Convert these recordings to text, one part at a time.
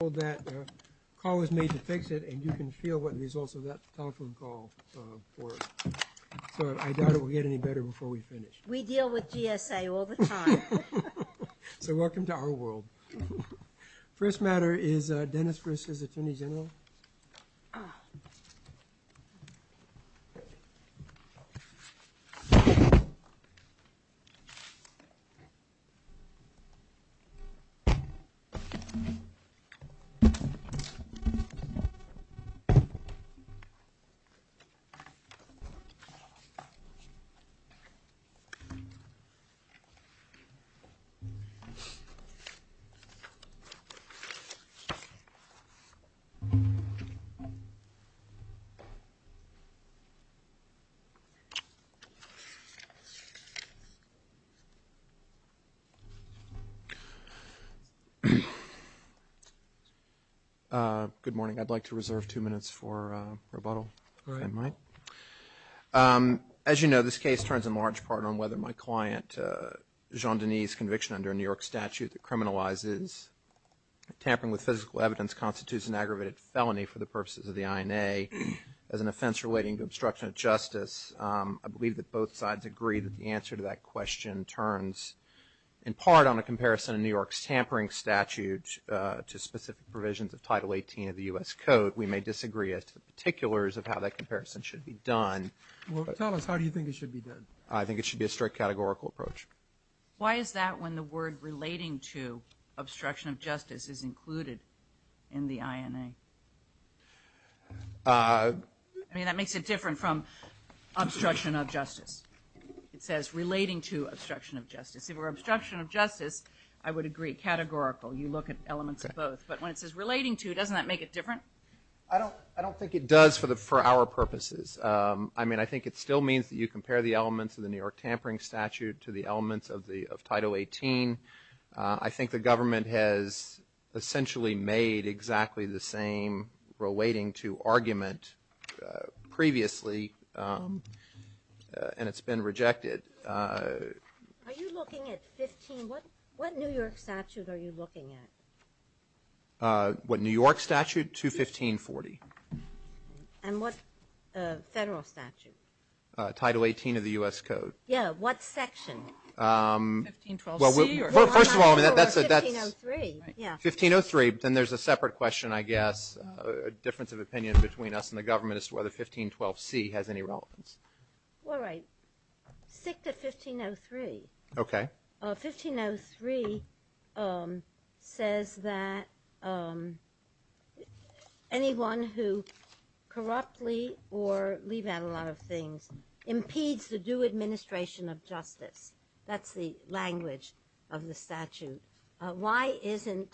All that call is made to fix it and you can feel what the results of that telephone call So I doubt it will get any better before we finish we deal with GSA all the time So welcome to our world First matter is Dennis versus Attorney General Good morning, I'd like to reserve two minutes for rebuttal As you know this case turns in large part on whether my client Jean-Denis conviction under a New York statute that criminalizes Tampering with physical evidence constitutes an aggravated felony for the purposes of the INA as an offense relating to obstruction of justice I believe that both sides agree that the answer to that question turns in part on a comparison in New York's tampering statute To specific provisions of title 18 of the u.s. Code we may disagree as to the particulars of how that comparison should be done I think it should be a strict categorical approach. Why is that when the word relating to? Obstruction of justice is included in the INA I mean that makes it different from obstruction of justice It says relating to obstruction of justice if we're obstruction of justice I would agree categorical you look at elements of both, but when it says relating to doesn't that make it different I don't I don't think it does for the for our purposes I mean, I think it still means that you compare the elements of the New York tampering statute to the elements of the of title 18 I think the government has Essentially made exactly the same relating to argument previously And it's been rejected New York statute, are you looking at? What New York statute 215 40 and what? Title 18 of the u.s. Code. Yeah, what section? 1503 then there's a separate question, I guess a difference of opinion between us and the government is whether 1512 C has any relevance All right stick to 1503, okay 1503 says that Anyone who Corruptly or leave out a lot of things Impedes the do administration of justice. That's the language of the statute. Why isn't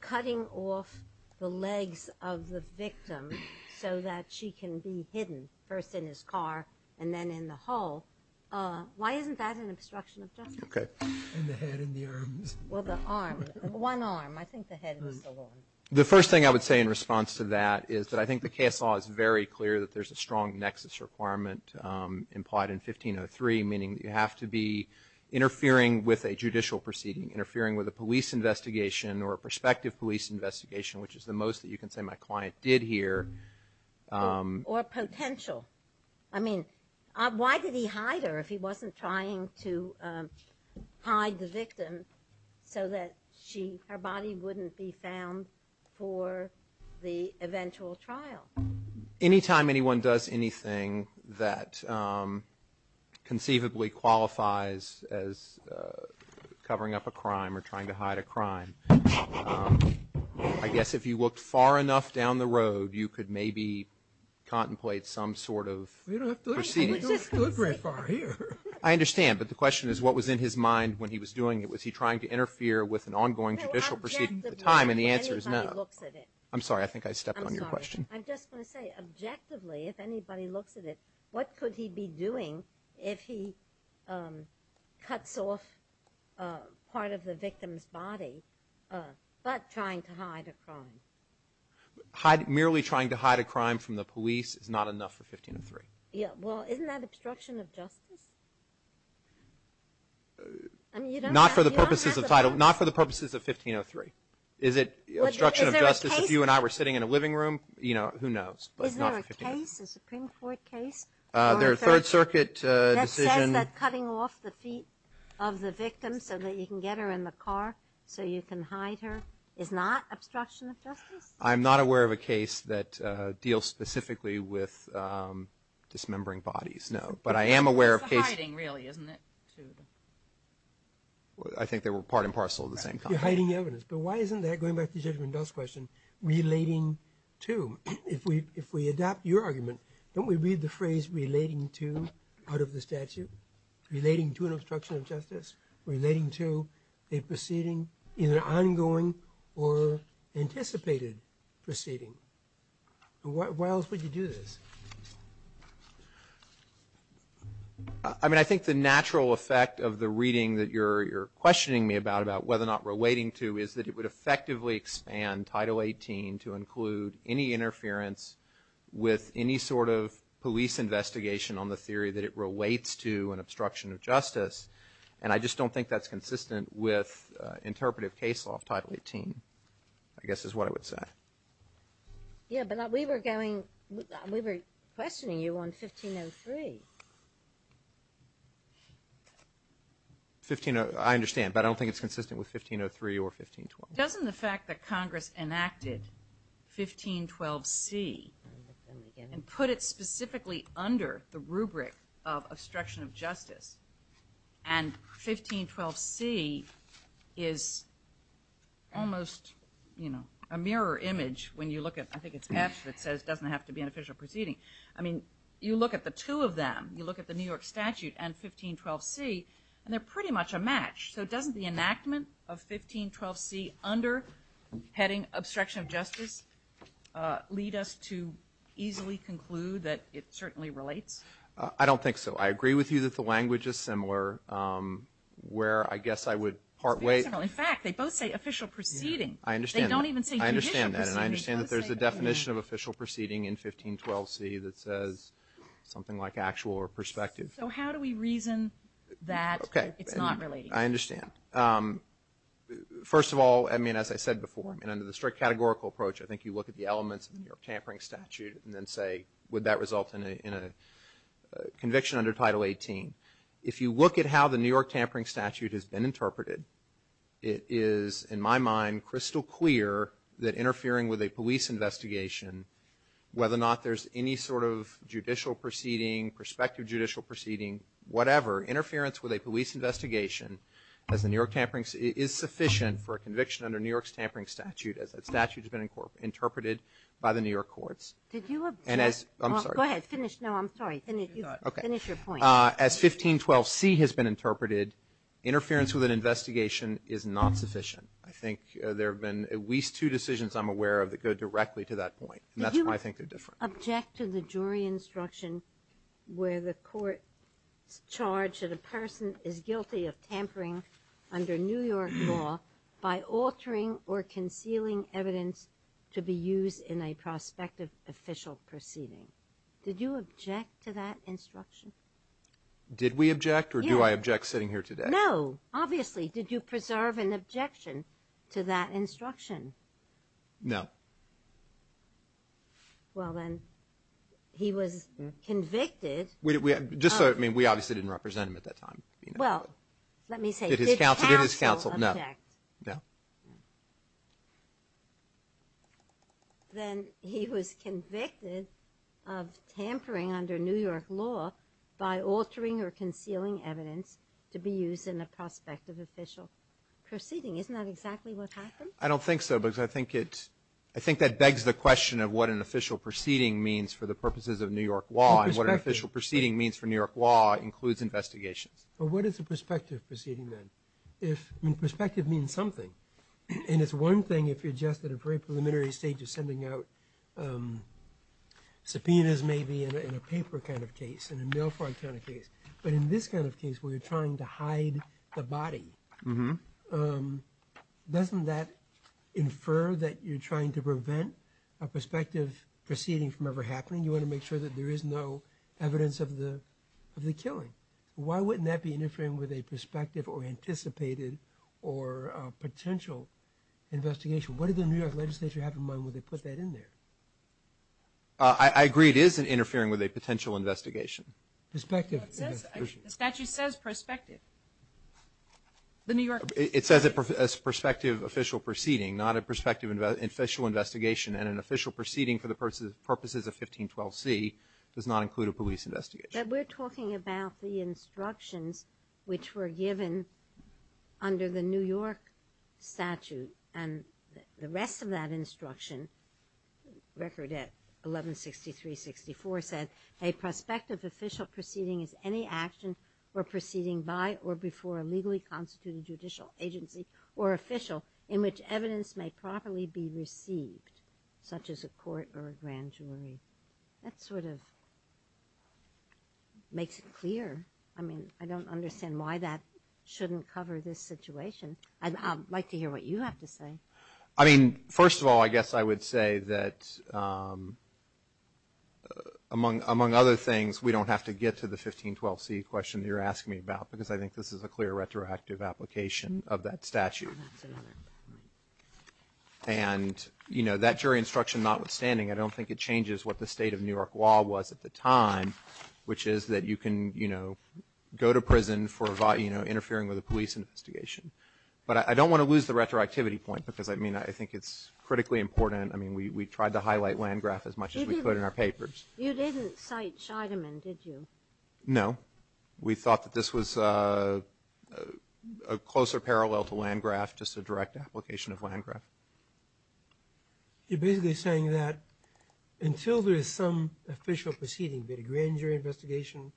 Cutting off the legs of the victim so that she can be hidden first in his car and then in the hall Why isn't that an obstruction of justice? The first thing I would say in response to that is that I think the case law is very clear that there's a strong nexus requirement implied in 1503 meaning you have to be Perspective police investigation, which is the most that you can say my client did here or potential I mean, why did he hide her if he wasn't trying to Hide the victim so that she her body wouldn't be found for the eventual trial anytime anyone does anything that Conceivably qualifies as I guess if you looked far enough down the road, you could maybe contemplate some sort of I Understand but the question is what was in his mind when he was doing it Was he trying to interfere with an ongoing judicial proceeding at the time and the answer is no, I'm sorry I think I stepped on your question What could he be doing if he cuts off part of the victim's body but trying to hide a crime Hide merely trying to hide a crime from the police is not enough for 1503. Yeah. Well, isn't that obstruction of justice? Not for the purposes of title not for the purposes of 1503 is it You and I were sitting in a living room, you know, who knows Their Third Circuit Cutting off the feet of the victim so that you can get her in the car so you can hide her is not I'm not aware of a case that deals specifically with Dismembering bodies. No, but I am aware of case I Think they were part and parcel of the same hiding evidence But why isn't that going back to judgment does question relating to if we if we adopt your argument Don't we read the phrase relating to out of the statute? relating to an obstruction of justice relating to a proceeding in an ongoing or anticipated proceeding What why else would you do this? I? Mean I think the natural effect of the reading that you're Questioning me about about whether or not relating to is that it would effectively expand title 18 to include any interference With any sort of police investigation on the theory that it relates to an obstruction of justice And I just don't think that's consistent with Interpretive case law of title 18. I guess is what I would say Yeah, but we were going we were questioning you on 1503 15 oh, I understand, but I don't think it's consistent with 1503 or 1512 doesn't the fact that Congress enacted 1512 see and put it specifically under the rubric of obstruction of justice and 1512 see is Almost you know a mirror image when you look at I think it's patch that says doesn't have to be an official proceeding I mean you look at the two of them you look at the New York statute and 1512 see and they're pretty much a match So it doesn't the enactment of 1512 see under Heading obstruction of justice Lead us to easily conclude that it certainly relates. I don't think so. I agree with you that the language is similar Where I guess I would part way in fact, they both say official proceeding. I understand I don't even say I understand that and I understand that there's a definition of official proceeding in 1512 see that says Something like actual or perspective. So how do we reason that? Okay, it's not really I understand First of all, I mean as I said before and under the strict categorical approach I think you look at the elements of the New York tampering statute and then say would that result in a Conviction under title 18 if you look at how the New York tampering statute has been interpreted It is in my mind crystal clear that interfering with a police investigation Whether or not there's any sort of judicial proceeding perspective judicial proceeding, whatever interference with a police investigation As the New York tampering is sufficient for a conviction under New York's tampering statute as that statute has been in court Interpreted by the New York courts. Did you and as I'm sorry, go ahead finish. No, I'm sorry As 1512 see has been interpreted Interference with an investigation is not sufficient. I think there have been at least two decisions I'm aware of that go directly to that point and that's why I think they're different object to the jury instruction where the court Charged that a person is guilty of tampering under New York law by altering or concealing evidence To be used in a prospective official proceeding. Did you object to that instruction? Did we object or do I object sitting here today? No, obviously, did you preserve an objection to that instruction? No Well, then He was Convicted we had just so I mean we obviously didn't represent him at that time. Well, let me say it is counts against counsel. No, yeah Then he was convicted of Tampering under New York law by altering or concealing evidence to be used in the prospect of official Proceeding isn't that exactly what happened? I don't think so because I think it I think that begs the question of what an official Proceeding means for the purposes of New York law and what an official proceeding means for New York law includes investigations Well, what is the perspective proceeding then if in perspective means something and it's one thing if you're just at a very preliminary stage You're sending out Subpoenas may be in a paper kind of case and a no front on a case But in this kind of case where you're trying to hide the body. Mm-hmm Doesn't that Infer that you're trying to prevent a prospective proceeding from ever happening You want to make sure that there is no evidence of the of the killing? why wouldn't that be interfering with a perspective or anticipated or potential Investigation. What did the New York legislature have in mind when they put that in there? I Agree it isn't interfering with a potential investigation perspective statue says perspective The New York It says it as perspective official proceeding not a perspective in about official investigation and an official proceeding for the purposes of 1512 C does not include a police investigation. We're talking about the instructions which were given under the New York statute and the rest of that instruction record at 1163 64 said a prospective official proceeding is any action or proceeding by or before a legally constituted judicial agency or official in which evidence may properly be received such as a court or a grand jury that sort of Makes it clear. I mean, I don't understand why that shouldn't cover this situation I'd like to hear what you have to say. I mean, first of all, I guess I would say that Among among other things we don't have to get to the 1512 C question You're asking me about because I think this is a clear retroactive application of that statute and You know that jury instruction notwithstanding. I don't think it changes what the state of New York law was at the time Which is that you can you know go to prison for a body, you know interfering with a police investigation But I don't want to lose the retroactivity point because I mean, I think it's critically important I mean we tried to highlight Landgraf as much as we put in our papers. You didn't cite Scheidemann. Did you know? we thought that this was a Closer parallel to Landgraf just a direct application of Landgraf You're basically saying that Until there is some official proceeding that a grand jury investigation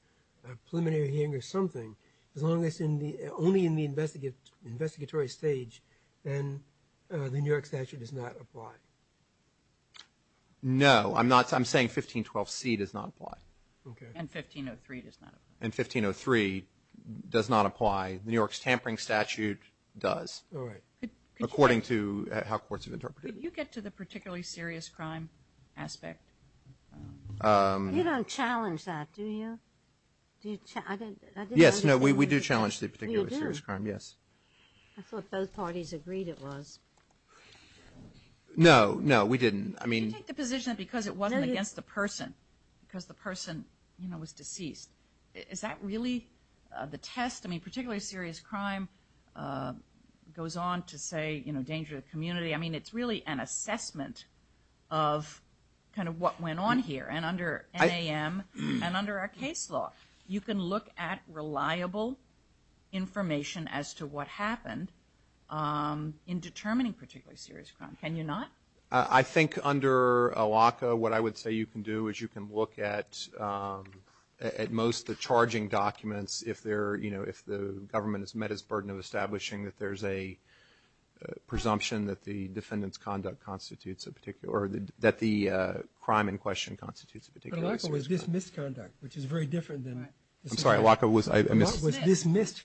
preliminary hearing or something as long as in the only in the investigate investigatory stage and The New York statute does not apply No, I'm not I'm saying 1512 C does not apply And 1503 Does not apply the New York's tampering statute does According to how courts have interpreted you get to the particularly serious crime aspect You don't challenge that do you? Yes, no, we do challenge the particular serious crime yes, I thought both parties agreed it was No, no, we didn't I mean Because it wasn't against the person because the person you know was deceased. Is that really the test? I mean particularly serious crime Goes on to say, you know danger to the community. I mean, it's really an assessment of Kind of what went on here and under I am and under a case law you can look at reliable information as to what happened In determining particularly serious crime, can you not I think under a WACA what I would say you can do is you can look at at most the charging documents if they're you know, if the government has met his burden of establishing that there's a presumption that the defendants conduct constitutes a particular that the Crime in question constitutes a particular Conduct which is very different than I'm sorry WACA was I was dismissed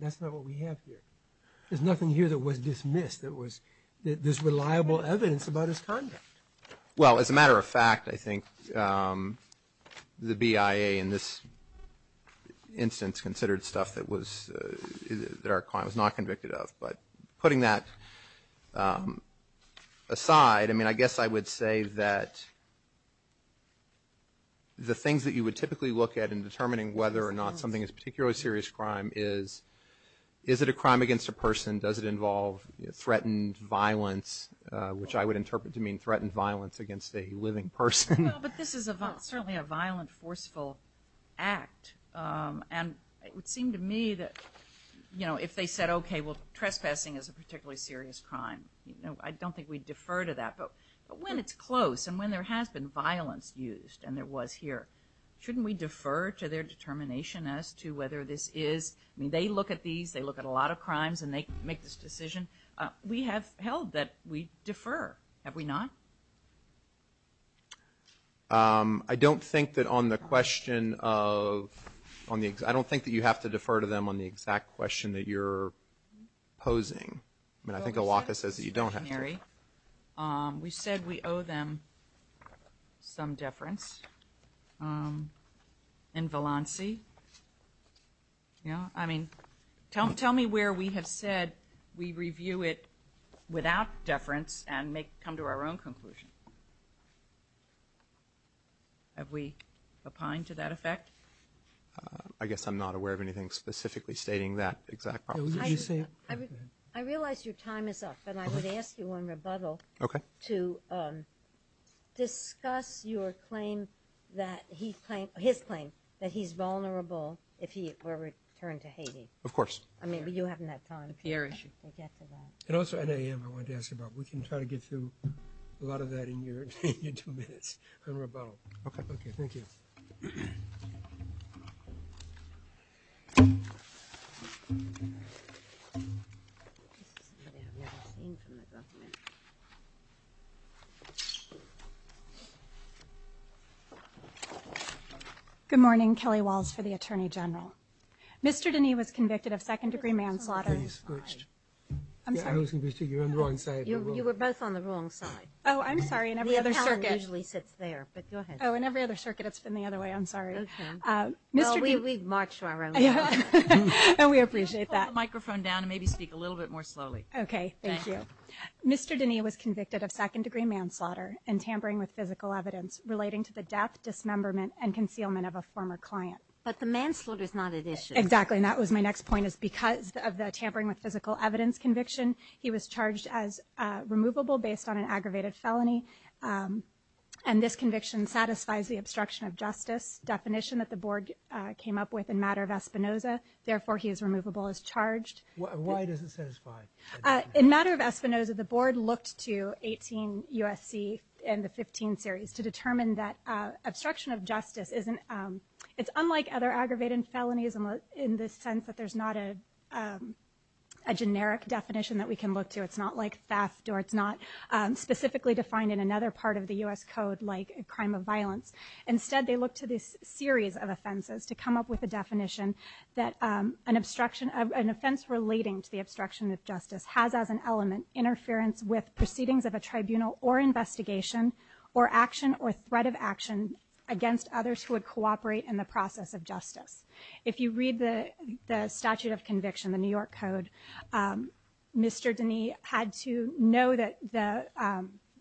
There's nothing here that was dismissed it was this reliable evidence about his conduct well as a matter of fact, I think The BIA in this Instance considered stuff that was that our client was not convicted of but putting that Aside I mean, I guess I would say that The things that you would typically look at in determining whether or not something is particularly serious crime is Is it a crime against a person does it involve? threatened violence Which I would interpret to mean threatened violence against a living person, but this is a certainly a violent forceful act And it would seem to me that you know, if they said, okay Well trespassing is a particularly serious crime, you know I don't think we defer to that but when it's close and when there has been violence used and there was here Shouldn't we defer to their determination as to whether this is I mean they look at these they look at a lot of crimes and They make this decision. We have held that we defer have we not I don't think that on the question of On the I don't think that you have to defer to them on the exact question that you're Opposing I mean, I think a walker says that you don't have Mary. Um, we said we owe them some deference in valency Yeah, I mean, don't tell me where we have said we review it without deference and make come to our own conclusion Have we opined to that effect, I guess I'm not aware of anything specifically stating that exact I realize your time is up, but I would ask you one rebuttal. Okay to Discuss your claim that he's playing his claim that he's vulnerable if he were returned to Haiti, of course I mean, but you haven't that time the air issue And also I am I want to ask about we can try to get through a lot of that in your two minutes I Good morning, Kelly walls for the Attorney General. Mr. Dineen was convicted of second-degree manslaughter You were both on the wrong side, oh, I'm sorry and every other circus Lee sits there but go ahead Oh and every other circuit it's been the other way. I'm sorry Mr. D. We've marched around We appreciate that microphone down and maybe speak a little bit more slowly, okay Thank you. Mr. Dineen was convicted of second-degree manslaughter and tampering with physical evidence relating to the death Dismemberment and concealment of a former client, but the manslaughter is not an issue Exactly, and that was my next point is because of the tampering with physical evidence conviction. He was charged as removable based on an aggravated felony and This conviction satisfies the obstruction of justice definition that the board came up with in matter of Espinoza Therefore he is removable as charged In matter of Espinoza the board looked to 18 USC and the 15 series to determine that obstruction of justice isn't it's unlike other aggravated felonies and in this sense that there's not a Generic definition that we can look to it's not like theft or it's not Specifically defined in another part of the US Code like a crime of violence instead they look to this series of offenses to come up with a definition that an obstruction of an offense relating to the obstruction of justice has as an element interference with proceedings of a tribunal or Investigation or action or threat of action against others who would cooperate in the process of justice If you read the the statute of conviction the New York Code Mr. Denny had to know that the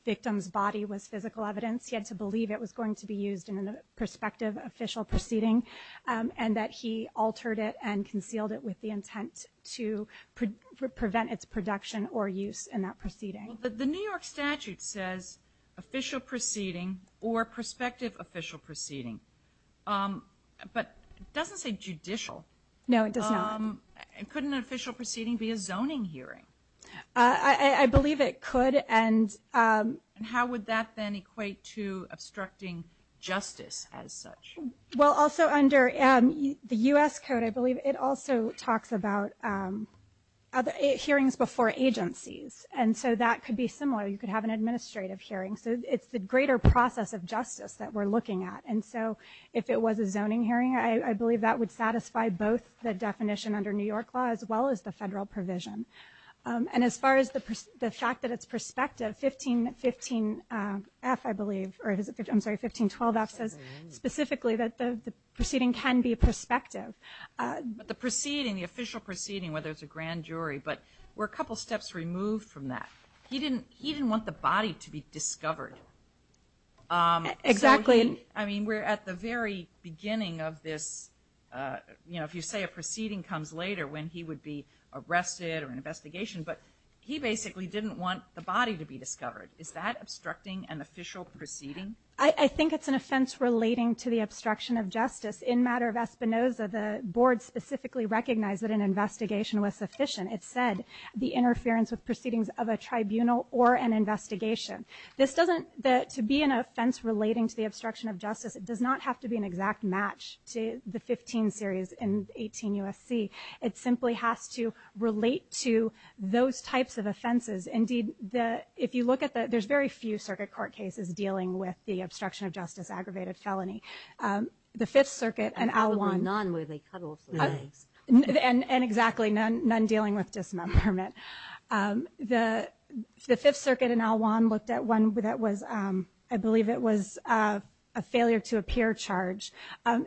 Victim's body was physical evidence. He had to believe it was going to be used in a prospective official proceeding and that he altered it and concealed it with the intent to Prevent its production or use in that proceeding the New York statute says official proceeding or prospective official proceeding But doesn't say judicial no, it doesn't Couldn't an official proceeding be a zoning hearing. I believe it could and How would that then equate to obstructing justice as such? Well also under The US Code, I believe it also talks about Other hearings before agencies and so that could be similar. You could have an administrative hearing So it's the greater process of justice that we're looking at And so if it was a zoning hearing I believe that would satisfy both the definition under New York law as well as the federal provision And as far as the fact that it's perspective 15 15 F I believe or is it I'm sorry 1512 F says specifically that the proceeding can be a perspective But the proceeding the official proceeding whether it's a grand jury, but we're a couple steps removed from that He didn't he didn't want the body to be discovered Exactly. I mean we're at the very beginning of this You know if you say a proceeding comes later when he would be arrested or an investigation But he basically didn't want the body to be discovered. Is that obstructing an official proceeding? I think it's an offense relating to the obstruction of justice in matter of Espinoza the board specifically recognized that an Investigation was sufficient. It said the interference with proceedings of a tribunal or an investigation This doesn't that to be an offense relating to the obstruction of justice It does not have to be an exact match to the 15 series in 18 USC It simply has to relate to those types of offenses Indeed the if you look at that, there's very few circuit court cases dealing with the obstruction of justice aggravated felony the Fifth Circuit and And and exactly none none dealing with dismemberment the The Fifth Circuit and Al Juan looked at one with that was I believe it was a failure to appear charge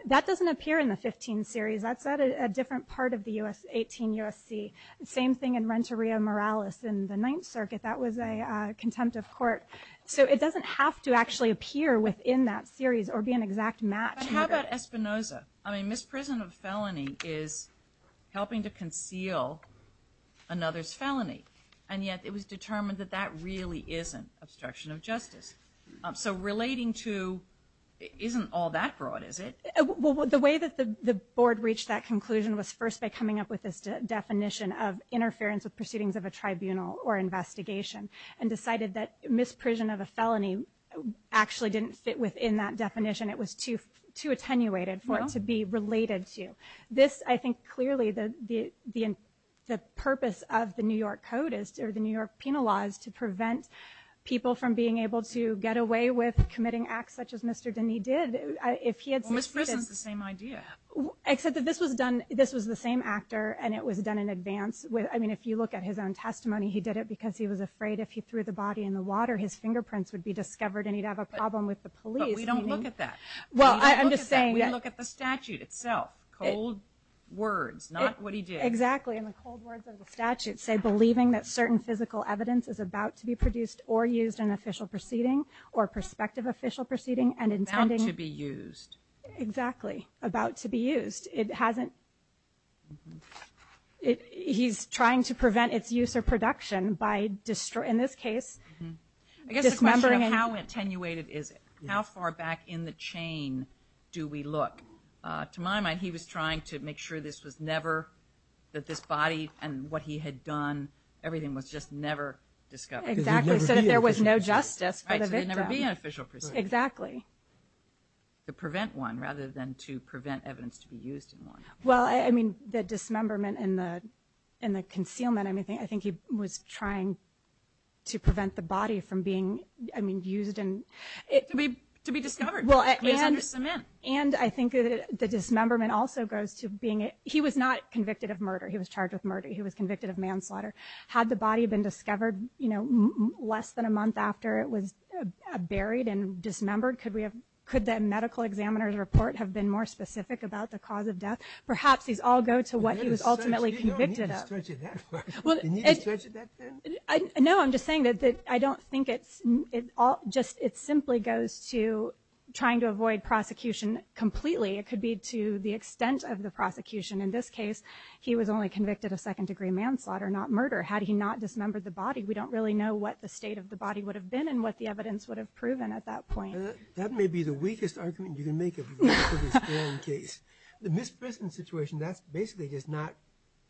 That doesn't appear in the 15 series That's at a different part of the u.s. 18 USC the same thing in Renteria Morales in the Ninth Circuit That was a contempt of court. So it doesn't have to actually appear within that series or be an exact match Espinoza, I mean misprison of felony is helping to conceal Another's felony and yet it was determined that that really isn't obstruction of justice. So relating to Isn't all that broad is it? well the way that the the board reached that conclusion was first by coming up with this definition of Interference with proceedings of a tribunal or investigation and decided that misprision of a felony Actually didn't fit within that definition. It was too too attenuated for it to be related to this I think clearly the the the the purpose of the New York Code is to the New York penal laws to prevent People from being able to get away with committing acts such as mr. Denny did if he had misprisons the same idea Except that this was done. This was the same actor and it was done in advance with I mean if you look at his own Problem with the police Well, I'm just saying we look at the statute itself cold Words not what he did exactly in the cold words of the statute say believing that certain physical evidence is about to be produced or Used an official proceeding or prospective official proceeding and intended to be used exactly about to be used it hasn't He's trying to prevent its use or production by destroy in this case Remembering how attenuated is it how far back in the chain do we look to my mind? He was trying to make sure this was never that this body and what he had done Everything was just never discovered. There was no justice Exactly To prevent one rather than to prevent evidence to be used in one Well, I mean the dismemberment in the in the concealment anything. I think he was trying To prevent the body from being I mean used and it to be to be discovered Well, I understand and I think the dismemberment also goes to being it. He was not convicted of murder. He was charged with murder He was convicted of manslaughter had the body been discovered, you know less than a month after it was Buried and dismembered could we have could that medical examiner's report have been more specific about the cause of death? Perhaps these all go to what he was ultimately convicted I Know I'm just saying that that I don't think it's it all just it simply goes to Trying to avoid prosecution completely. It could be to the extent of the prosecution in this case He was only convicted of second-degree manslaughter not murder. Had he not dismembered the body We don't really know what the state of the body would have been and what the evidence would have proven at that point That may be the weakest argument you can make In case the misprison situation that's basically just not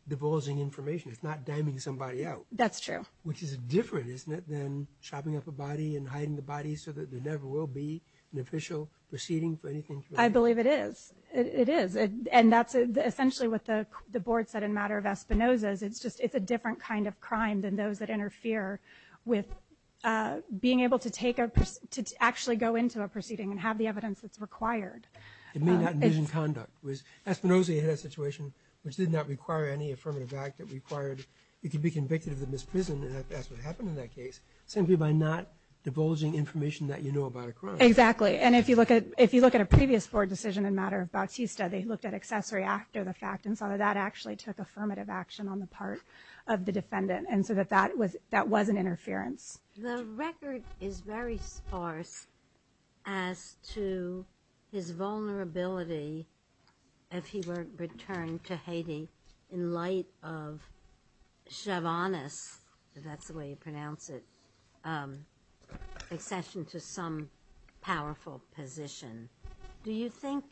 Divulging information. It's not damning somebody out. That's true Which is different isn't it then chopping up a body and hiding the body so that there never will be an official Proceeding for anything. I believe it is it is it and that's essentially what the board said in matter of Espinosa's it's just it's a different kind of crime than those that interfere with Being able to take a person to actually go into a proceeding and have the evidence that's required It may not be in conduct was Espinosa had a situation which did not require any affirmative act that required It could be convicted of the misprison. That's what happened in that case simply by not divulging information that you know about exactly and if you look at if you look at a previous board decision in matter of Bautista they Looked at accessory after the fact and saw that actually took affirmative action on the part of the defendant And so that that was that wasn't interference. The record is very sparse as to his vulnerability if he weren't returned to Haiti in light of Chavonis that's the way you pronounce it Accession to some powerful position Do you think?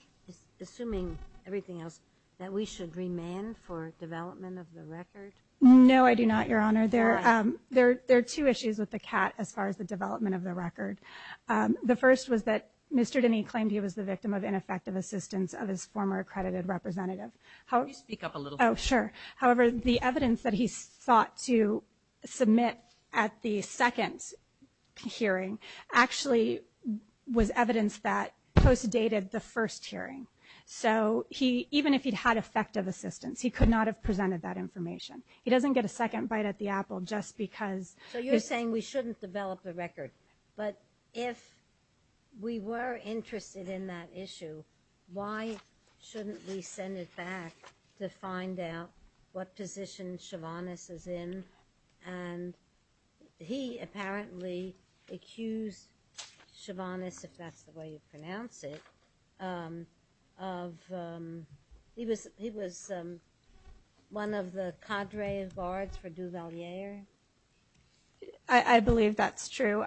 Assuming everything else that we should remand for development of the record. No, I do not your honor there There there are two issues with the cat as far as the development of the record The first was that mr. Denny claimed he was the victim of ineffective assistance of his former accredited representative How do you speak up a little? Oh sure. However, the evidence that he's thought to submit at the second hearing actually Was evidence that post dated the first hearing so he even if he'd had effective assistance He could not have presented that information. He doesn't get a second bite at the Apple just because so you're saying we shouldn't develop the record but if We were interested in that issue why shouldn't we send it back to find out what position Chavonis is in and He apparently accused Chavonis if that's the way you pronounce it He was he was one of the cadre of guards for Duvalier I Believe that's true.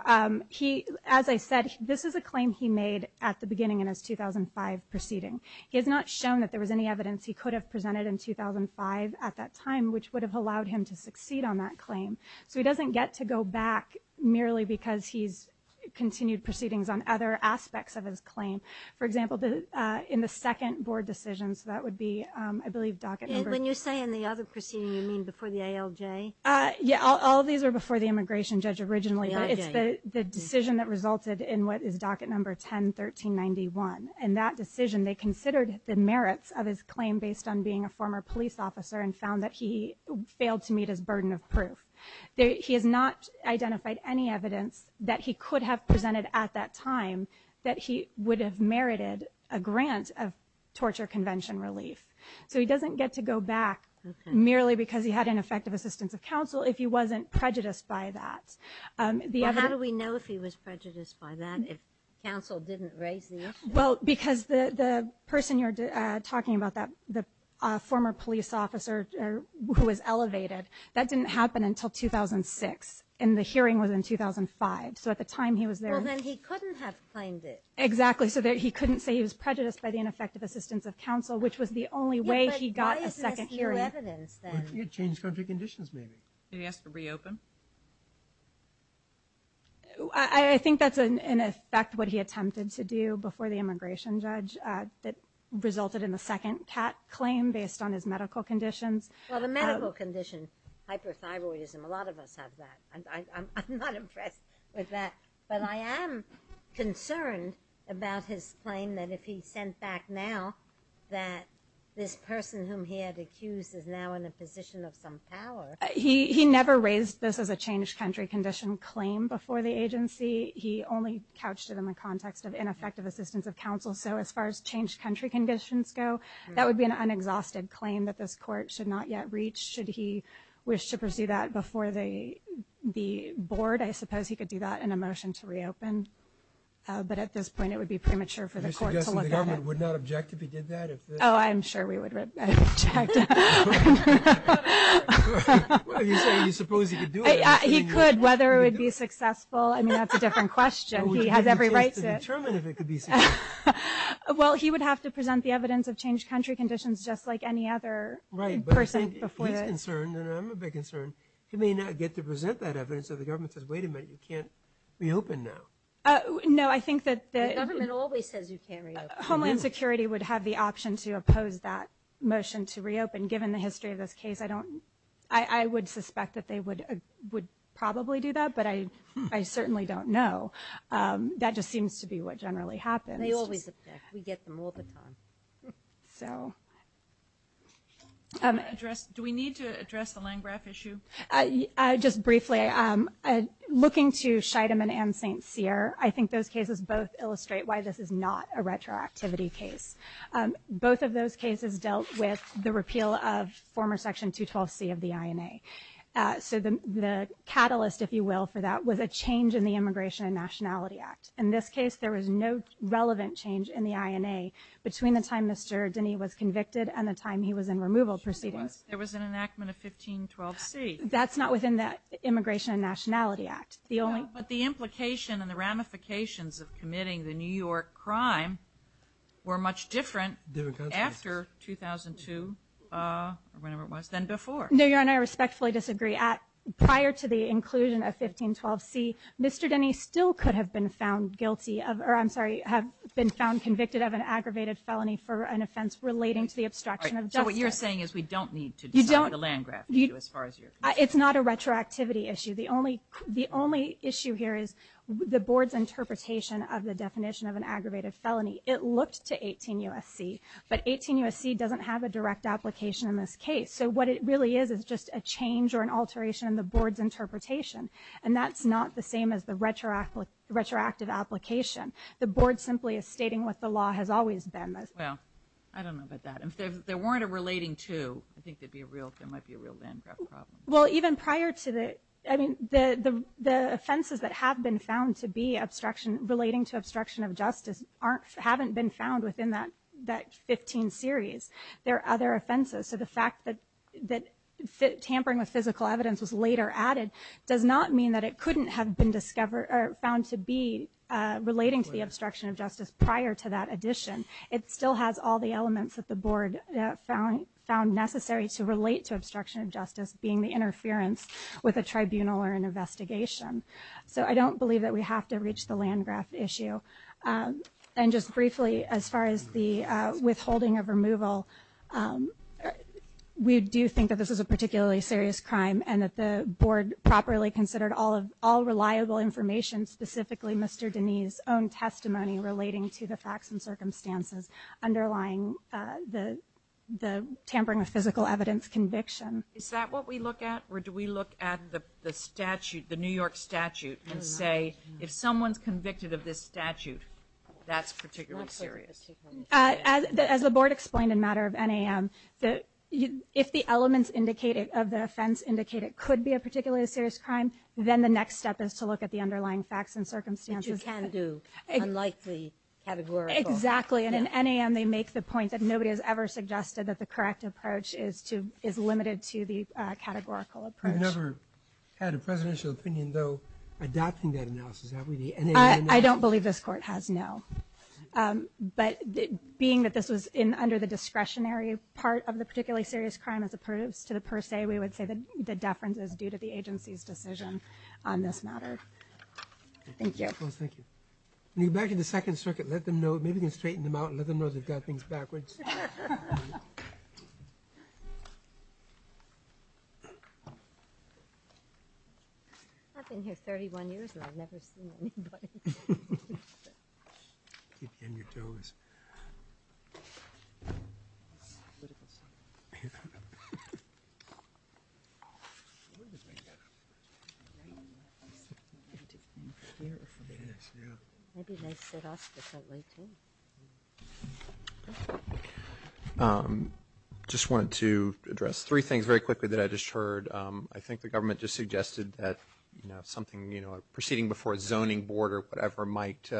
He as I said, this is a claim he made at the beginning in his 2005 proceeding He has not shown that there was any evidence He could have presented in 2005 at that time, which would have allowed him to succeed on that claim So he doesn't get to go back merely because he's Continued proceedings on other aspects of his claim. For example the in the second board decision So that would be I believe docket when you say in the other proceeding you mean before the ALJ Yeah, all these are before the immigration judge originally But it's the the decision that resulted in what is docket number 10 1391 and that decision they considered the merits of his claim based on being a former police officer and found that he Failed to meet his burden of proof there He has not identified any evidence that he could have presented at that time that he would have merited a grant of Torture convention relief so he doesn't get to go back Merely because he had ineffective assistance of counsel if he wasn't prejudiced by that The other we know if he was prejudiced by that if counsel didn't raise the well because the the person you're talking about that the former police officer Who was elevated that didn't happen until 2006 and the hearing was in 2005 So at the time he was there then he couldn't have claimed it Exactly so that he couldn't say he was prejudiced by the ineffective assistance of counsel, which was the only way he got a second Change country conditions, maybe yes to reopen I Think that's an effect what he attempted to do before the immigration judge that Resulted in the second cat claim based on his medical conditions. Well the medical condition Hyperthyroidism a lot of us have that I'm not impressed with that, but I am Concerned about his claim that if he sent back now That this person whom he had accused is now in a position of some power He he never raised this as a changed country condition claim before the agency He only couched it in the context of ineffective assistance of counsel So as far as changed country conditions go that would be an unexhausted claim that this court should not yet reach should he? wish to pursue that before they Be bored. I suppose he could do that in a motion to reopen But at this point it would be premature for the court would not object if he did that oh, I'm sure we would He could whether it would be successful, I mean that's a different question he has every right Well he would have to present the evidence of changed country conditions just like any other person before You may not get to present that evidence of the government says wait a minute you can't reopen now No, I think that the government always says you carry homeland security would have the option to oppose that Motion to reopen given the history of this case. I don't I I would suspect that they would would probably do that But I I certainly don't know That just seems to be what generally happens. They always we get them all the time so Address do we need to address the Langrath issue I just briefly I'm Sincere I think those cases both illustrate why this is not a retroactivity case Both of those cases dealt with the repeal of former section 212 C of the INA So the the catalyst if you will for that was a change in the Immigration and Nationality Act in this case There was no relevant change in the INA between the time. Mr. Denny was convicted and the time he was in removal proceedings. There was an enactment of 1512 C That's not within that Immigration and Nationality Act the only but the implication and the ramifications of committing the New York crime were much different after 2002 No, you're and I respectfully disagree at prior to the inclusion of 1512 C. Mr Denny still could have been found guilty of or I'm sorry have been found convicted of an aggravated felony for an offense relating to the It's not a retroactivity issue The only the only issue here is the board's interpretation of the definition of an aggravated felony It looked to 18 USC, but 18 USC doesn't have a direct application in this case So what it really is is just a change or an alteration in the board's interpretation And that's not the same as the retroactive retroactive application The board simply is stating what the law has always been this well I don't know about that if there weren't a relating to I think there'd be a real there might be a real land Well even prior to the I mean the the the offenses that have been found to be obstruction relating to obstruction of justice Aren't haven't been found within that that 15 series. There are other offenses. So the fact that that Tampering with physical evidence was later added does not mean that it couldn't have been discovered or found to be Relating to the obstruction of justice prior to that addition It still has all the elements that the board found found necessary to relate to obstruction of justice being the interference With a tribunal or an investigation So I don't believe that we have to reach the land-grant issue and just briefly as far as the withholding of removal We do think that this is a particularly serious crime and that the board properly considered all of all reliable information Specifically, mr. Denise own testimony relating to the facts and circumstances underlying the the tampering with physical evidence conviction Is that what we look at or do we look at the the statute the New York statute and say if someone's convicted of this? statute that's particularly serious as The board explained in matter of NAM that you if the elements indicated of the offense Indicated could be a particularly serious crime. Then. The next step is to look at the underlying facts and circumstances. You can't do Exactly and in any and they make the point that nobody has ever suggested that the correct approach is to is limited to the Categorical approach never had a presidential opinion though Adapting that analysis. I don't believe this court has no But being that this was in under the discretionary part of the particularly serious crime as approves to the per se We would say that the deference is due to the agency's decision on this matter Thank you. Thank you back in the Second Circuit. Let them know maybe can straighten them out and let them know they've got things backwards I Just wanted to address three things very quickly that I just heard I think the government just suggested that you know something, you know proceeding before zoning board or whatever might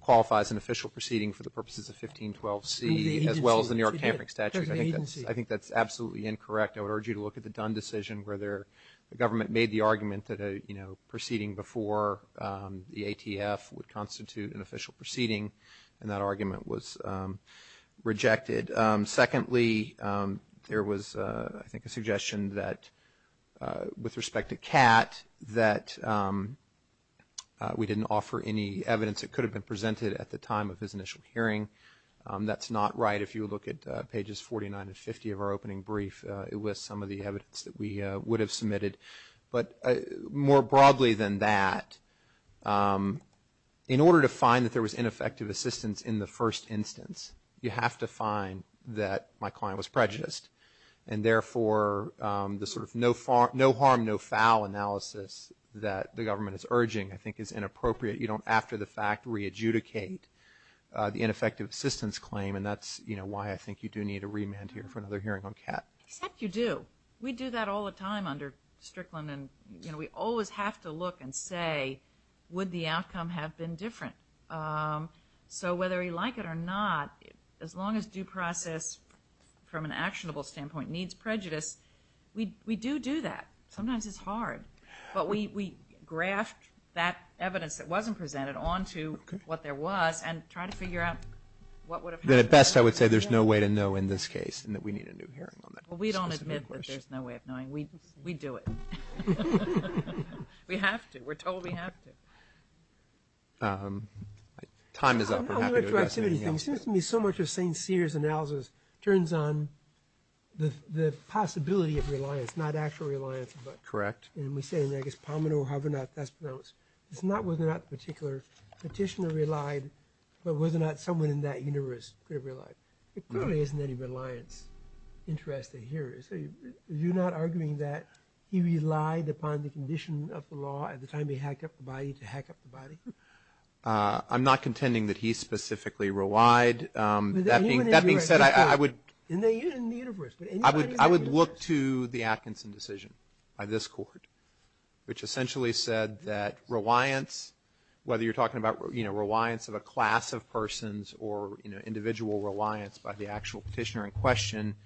Qualify as an official proceeding for the purposes of 1512 see as well as the New York tampering statute I think that's I think that's absolutely incorrect I would urge you to look at the Dunn decision where there the government made the argument that a you know proceeding before the ATF would constitute an official proceeding and that argument was rejected secondly, there was I think a suggestion that with respect to cat that We didn't offer any evidence that could have been presented at the time of his initial hearing That's not right If you look at pages 49 and 50 of our opening brief It was some of the evidence that we would have submitted but more broadly than that In order to find that there was ineffective assistance in the first instance you have to find that my client was prejudiced and Therefore the sort of no far no harm. No foul analysis that the government is urging. I think is inappropriate You don't after the fact re-adjudicate The ineffective assistance claim and that's you know Why I think you do need a remand here for another hearing on cat except you do we do that all the time under Strickland and you know, we always have to look and say Would the outcome have been different? So whether you like it or not, as long as due process From an actionable standpoint needs prejudice. We do do that. Sometimes it's hard But we we graphed that evidence that wasn't presented on to what there was and try to figure out At best I would say there's no way to know in this case and that we need a new hearing Well, we don't admit that there's no way of knowing we we do it We have to we're told we have to Time is up So much of st. Sears analysis turns on The possibility of reliance not actual reliance, but correct and we say I guess Palmino or however not that's pronounced It's not with that particular petitioner relied, but was it not someone in that universe could have relied. It clearly isn't any reliance Interested here. So you're not arguing that he relied upon the condition of the law at the time He hacked up the body to hack up the body I'm not contending that he specifically relied That being that being said I would I Would look to the Atkinson decision by this court Which essentially said that reliance? Whether you're talking about, you know reliance of a class of persons or you know Individual reliance by the actual petitioner in question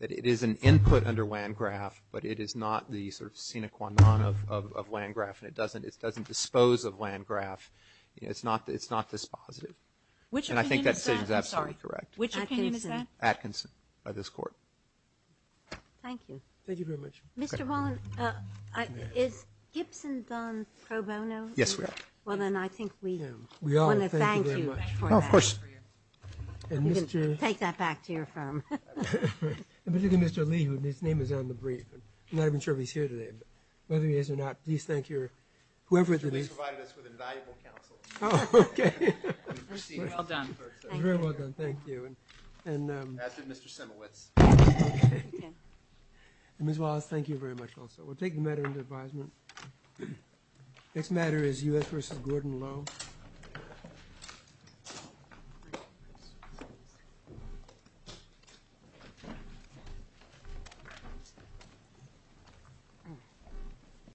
that it is an input under land graph But it is not the sort of scenic one on of land graph and it doesn't it doesn't dispose of land graph It's not it's not this positive which and I think that's absolutely correct, which is that Atkinson by this court Thank you. Thank you very much. Mr. Is Gibson done pro bono? Yes, we are. Well, then I think we Take that back to your firm But you can mr. Lee who his name is on the brief. I'm not even sure he's here today But whether he is or not, please. Thank your whoever Oh Miss Wallace, thank you very much. Also, we'll take the matter into advisement. It's matter is us versus Gordon low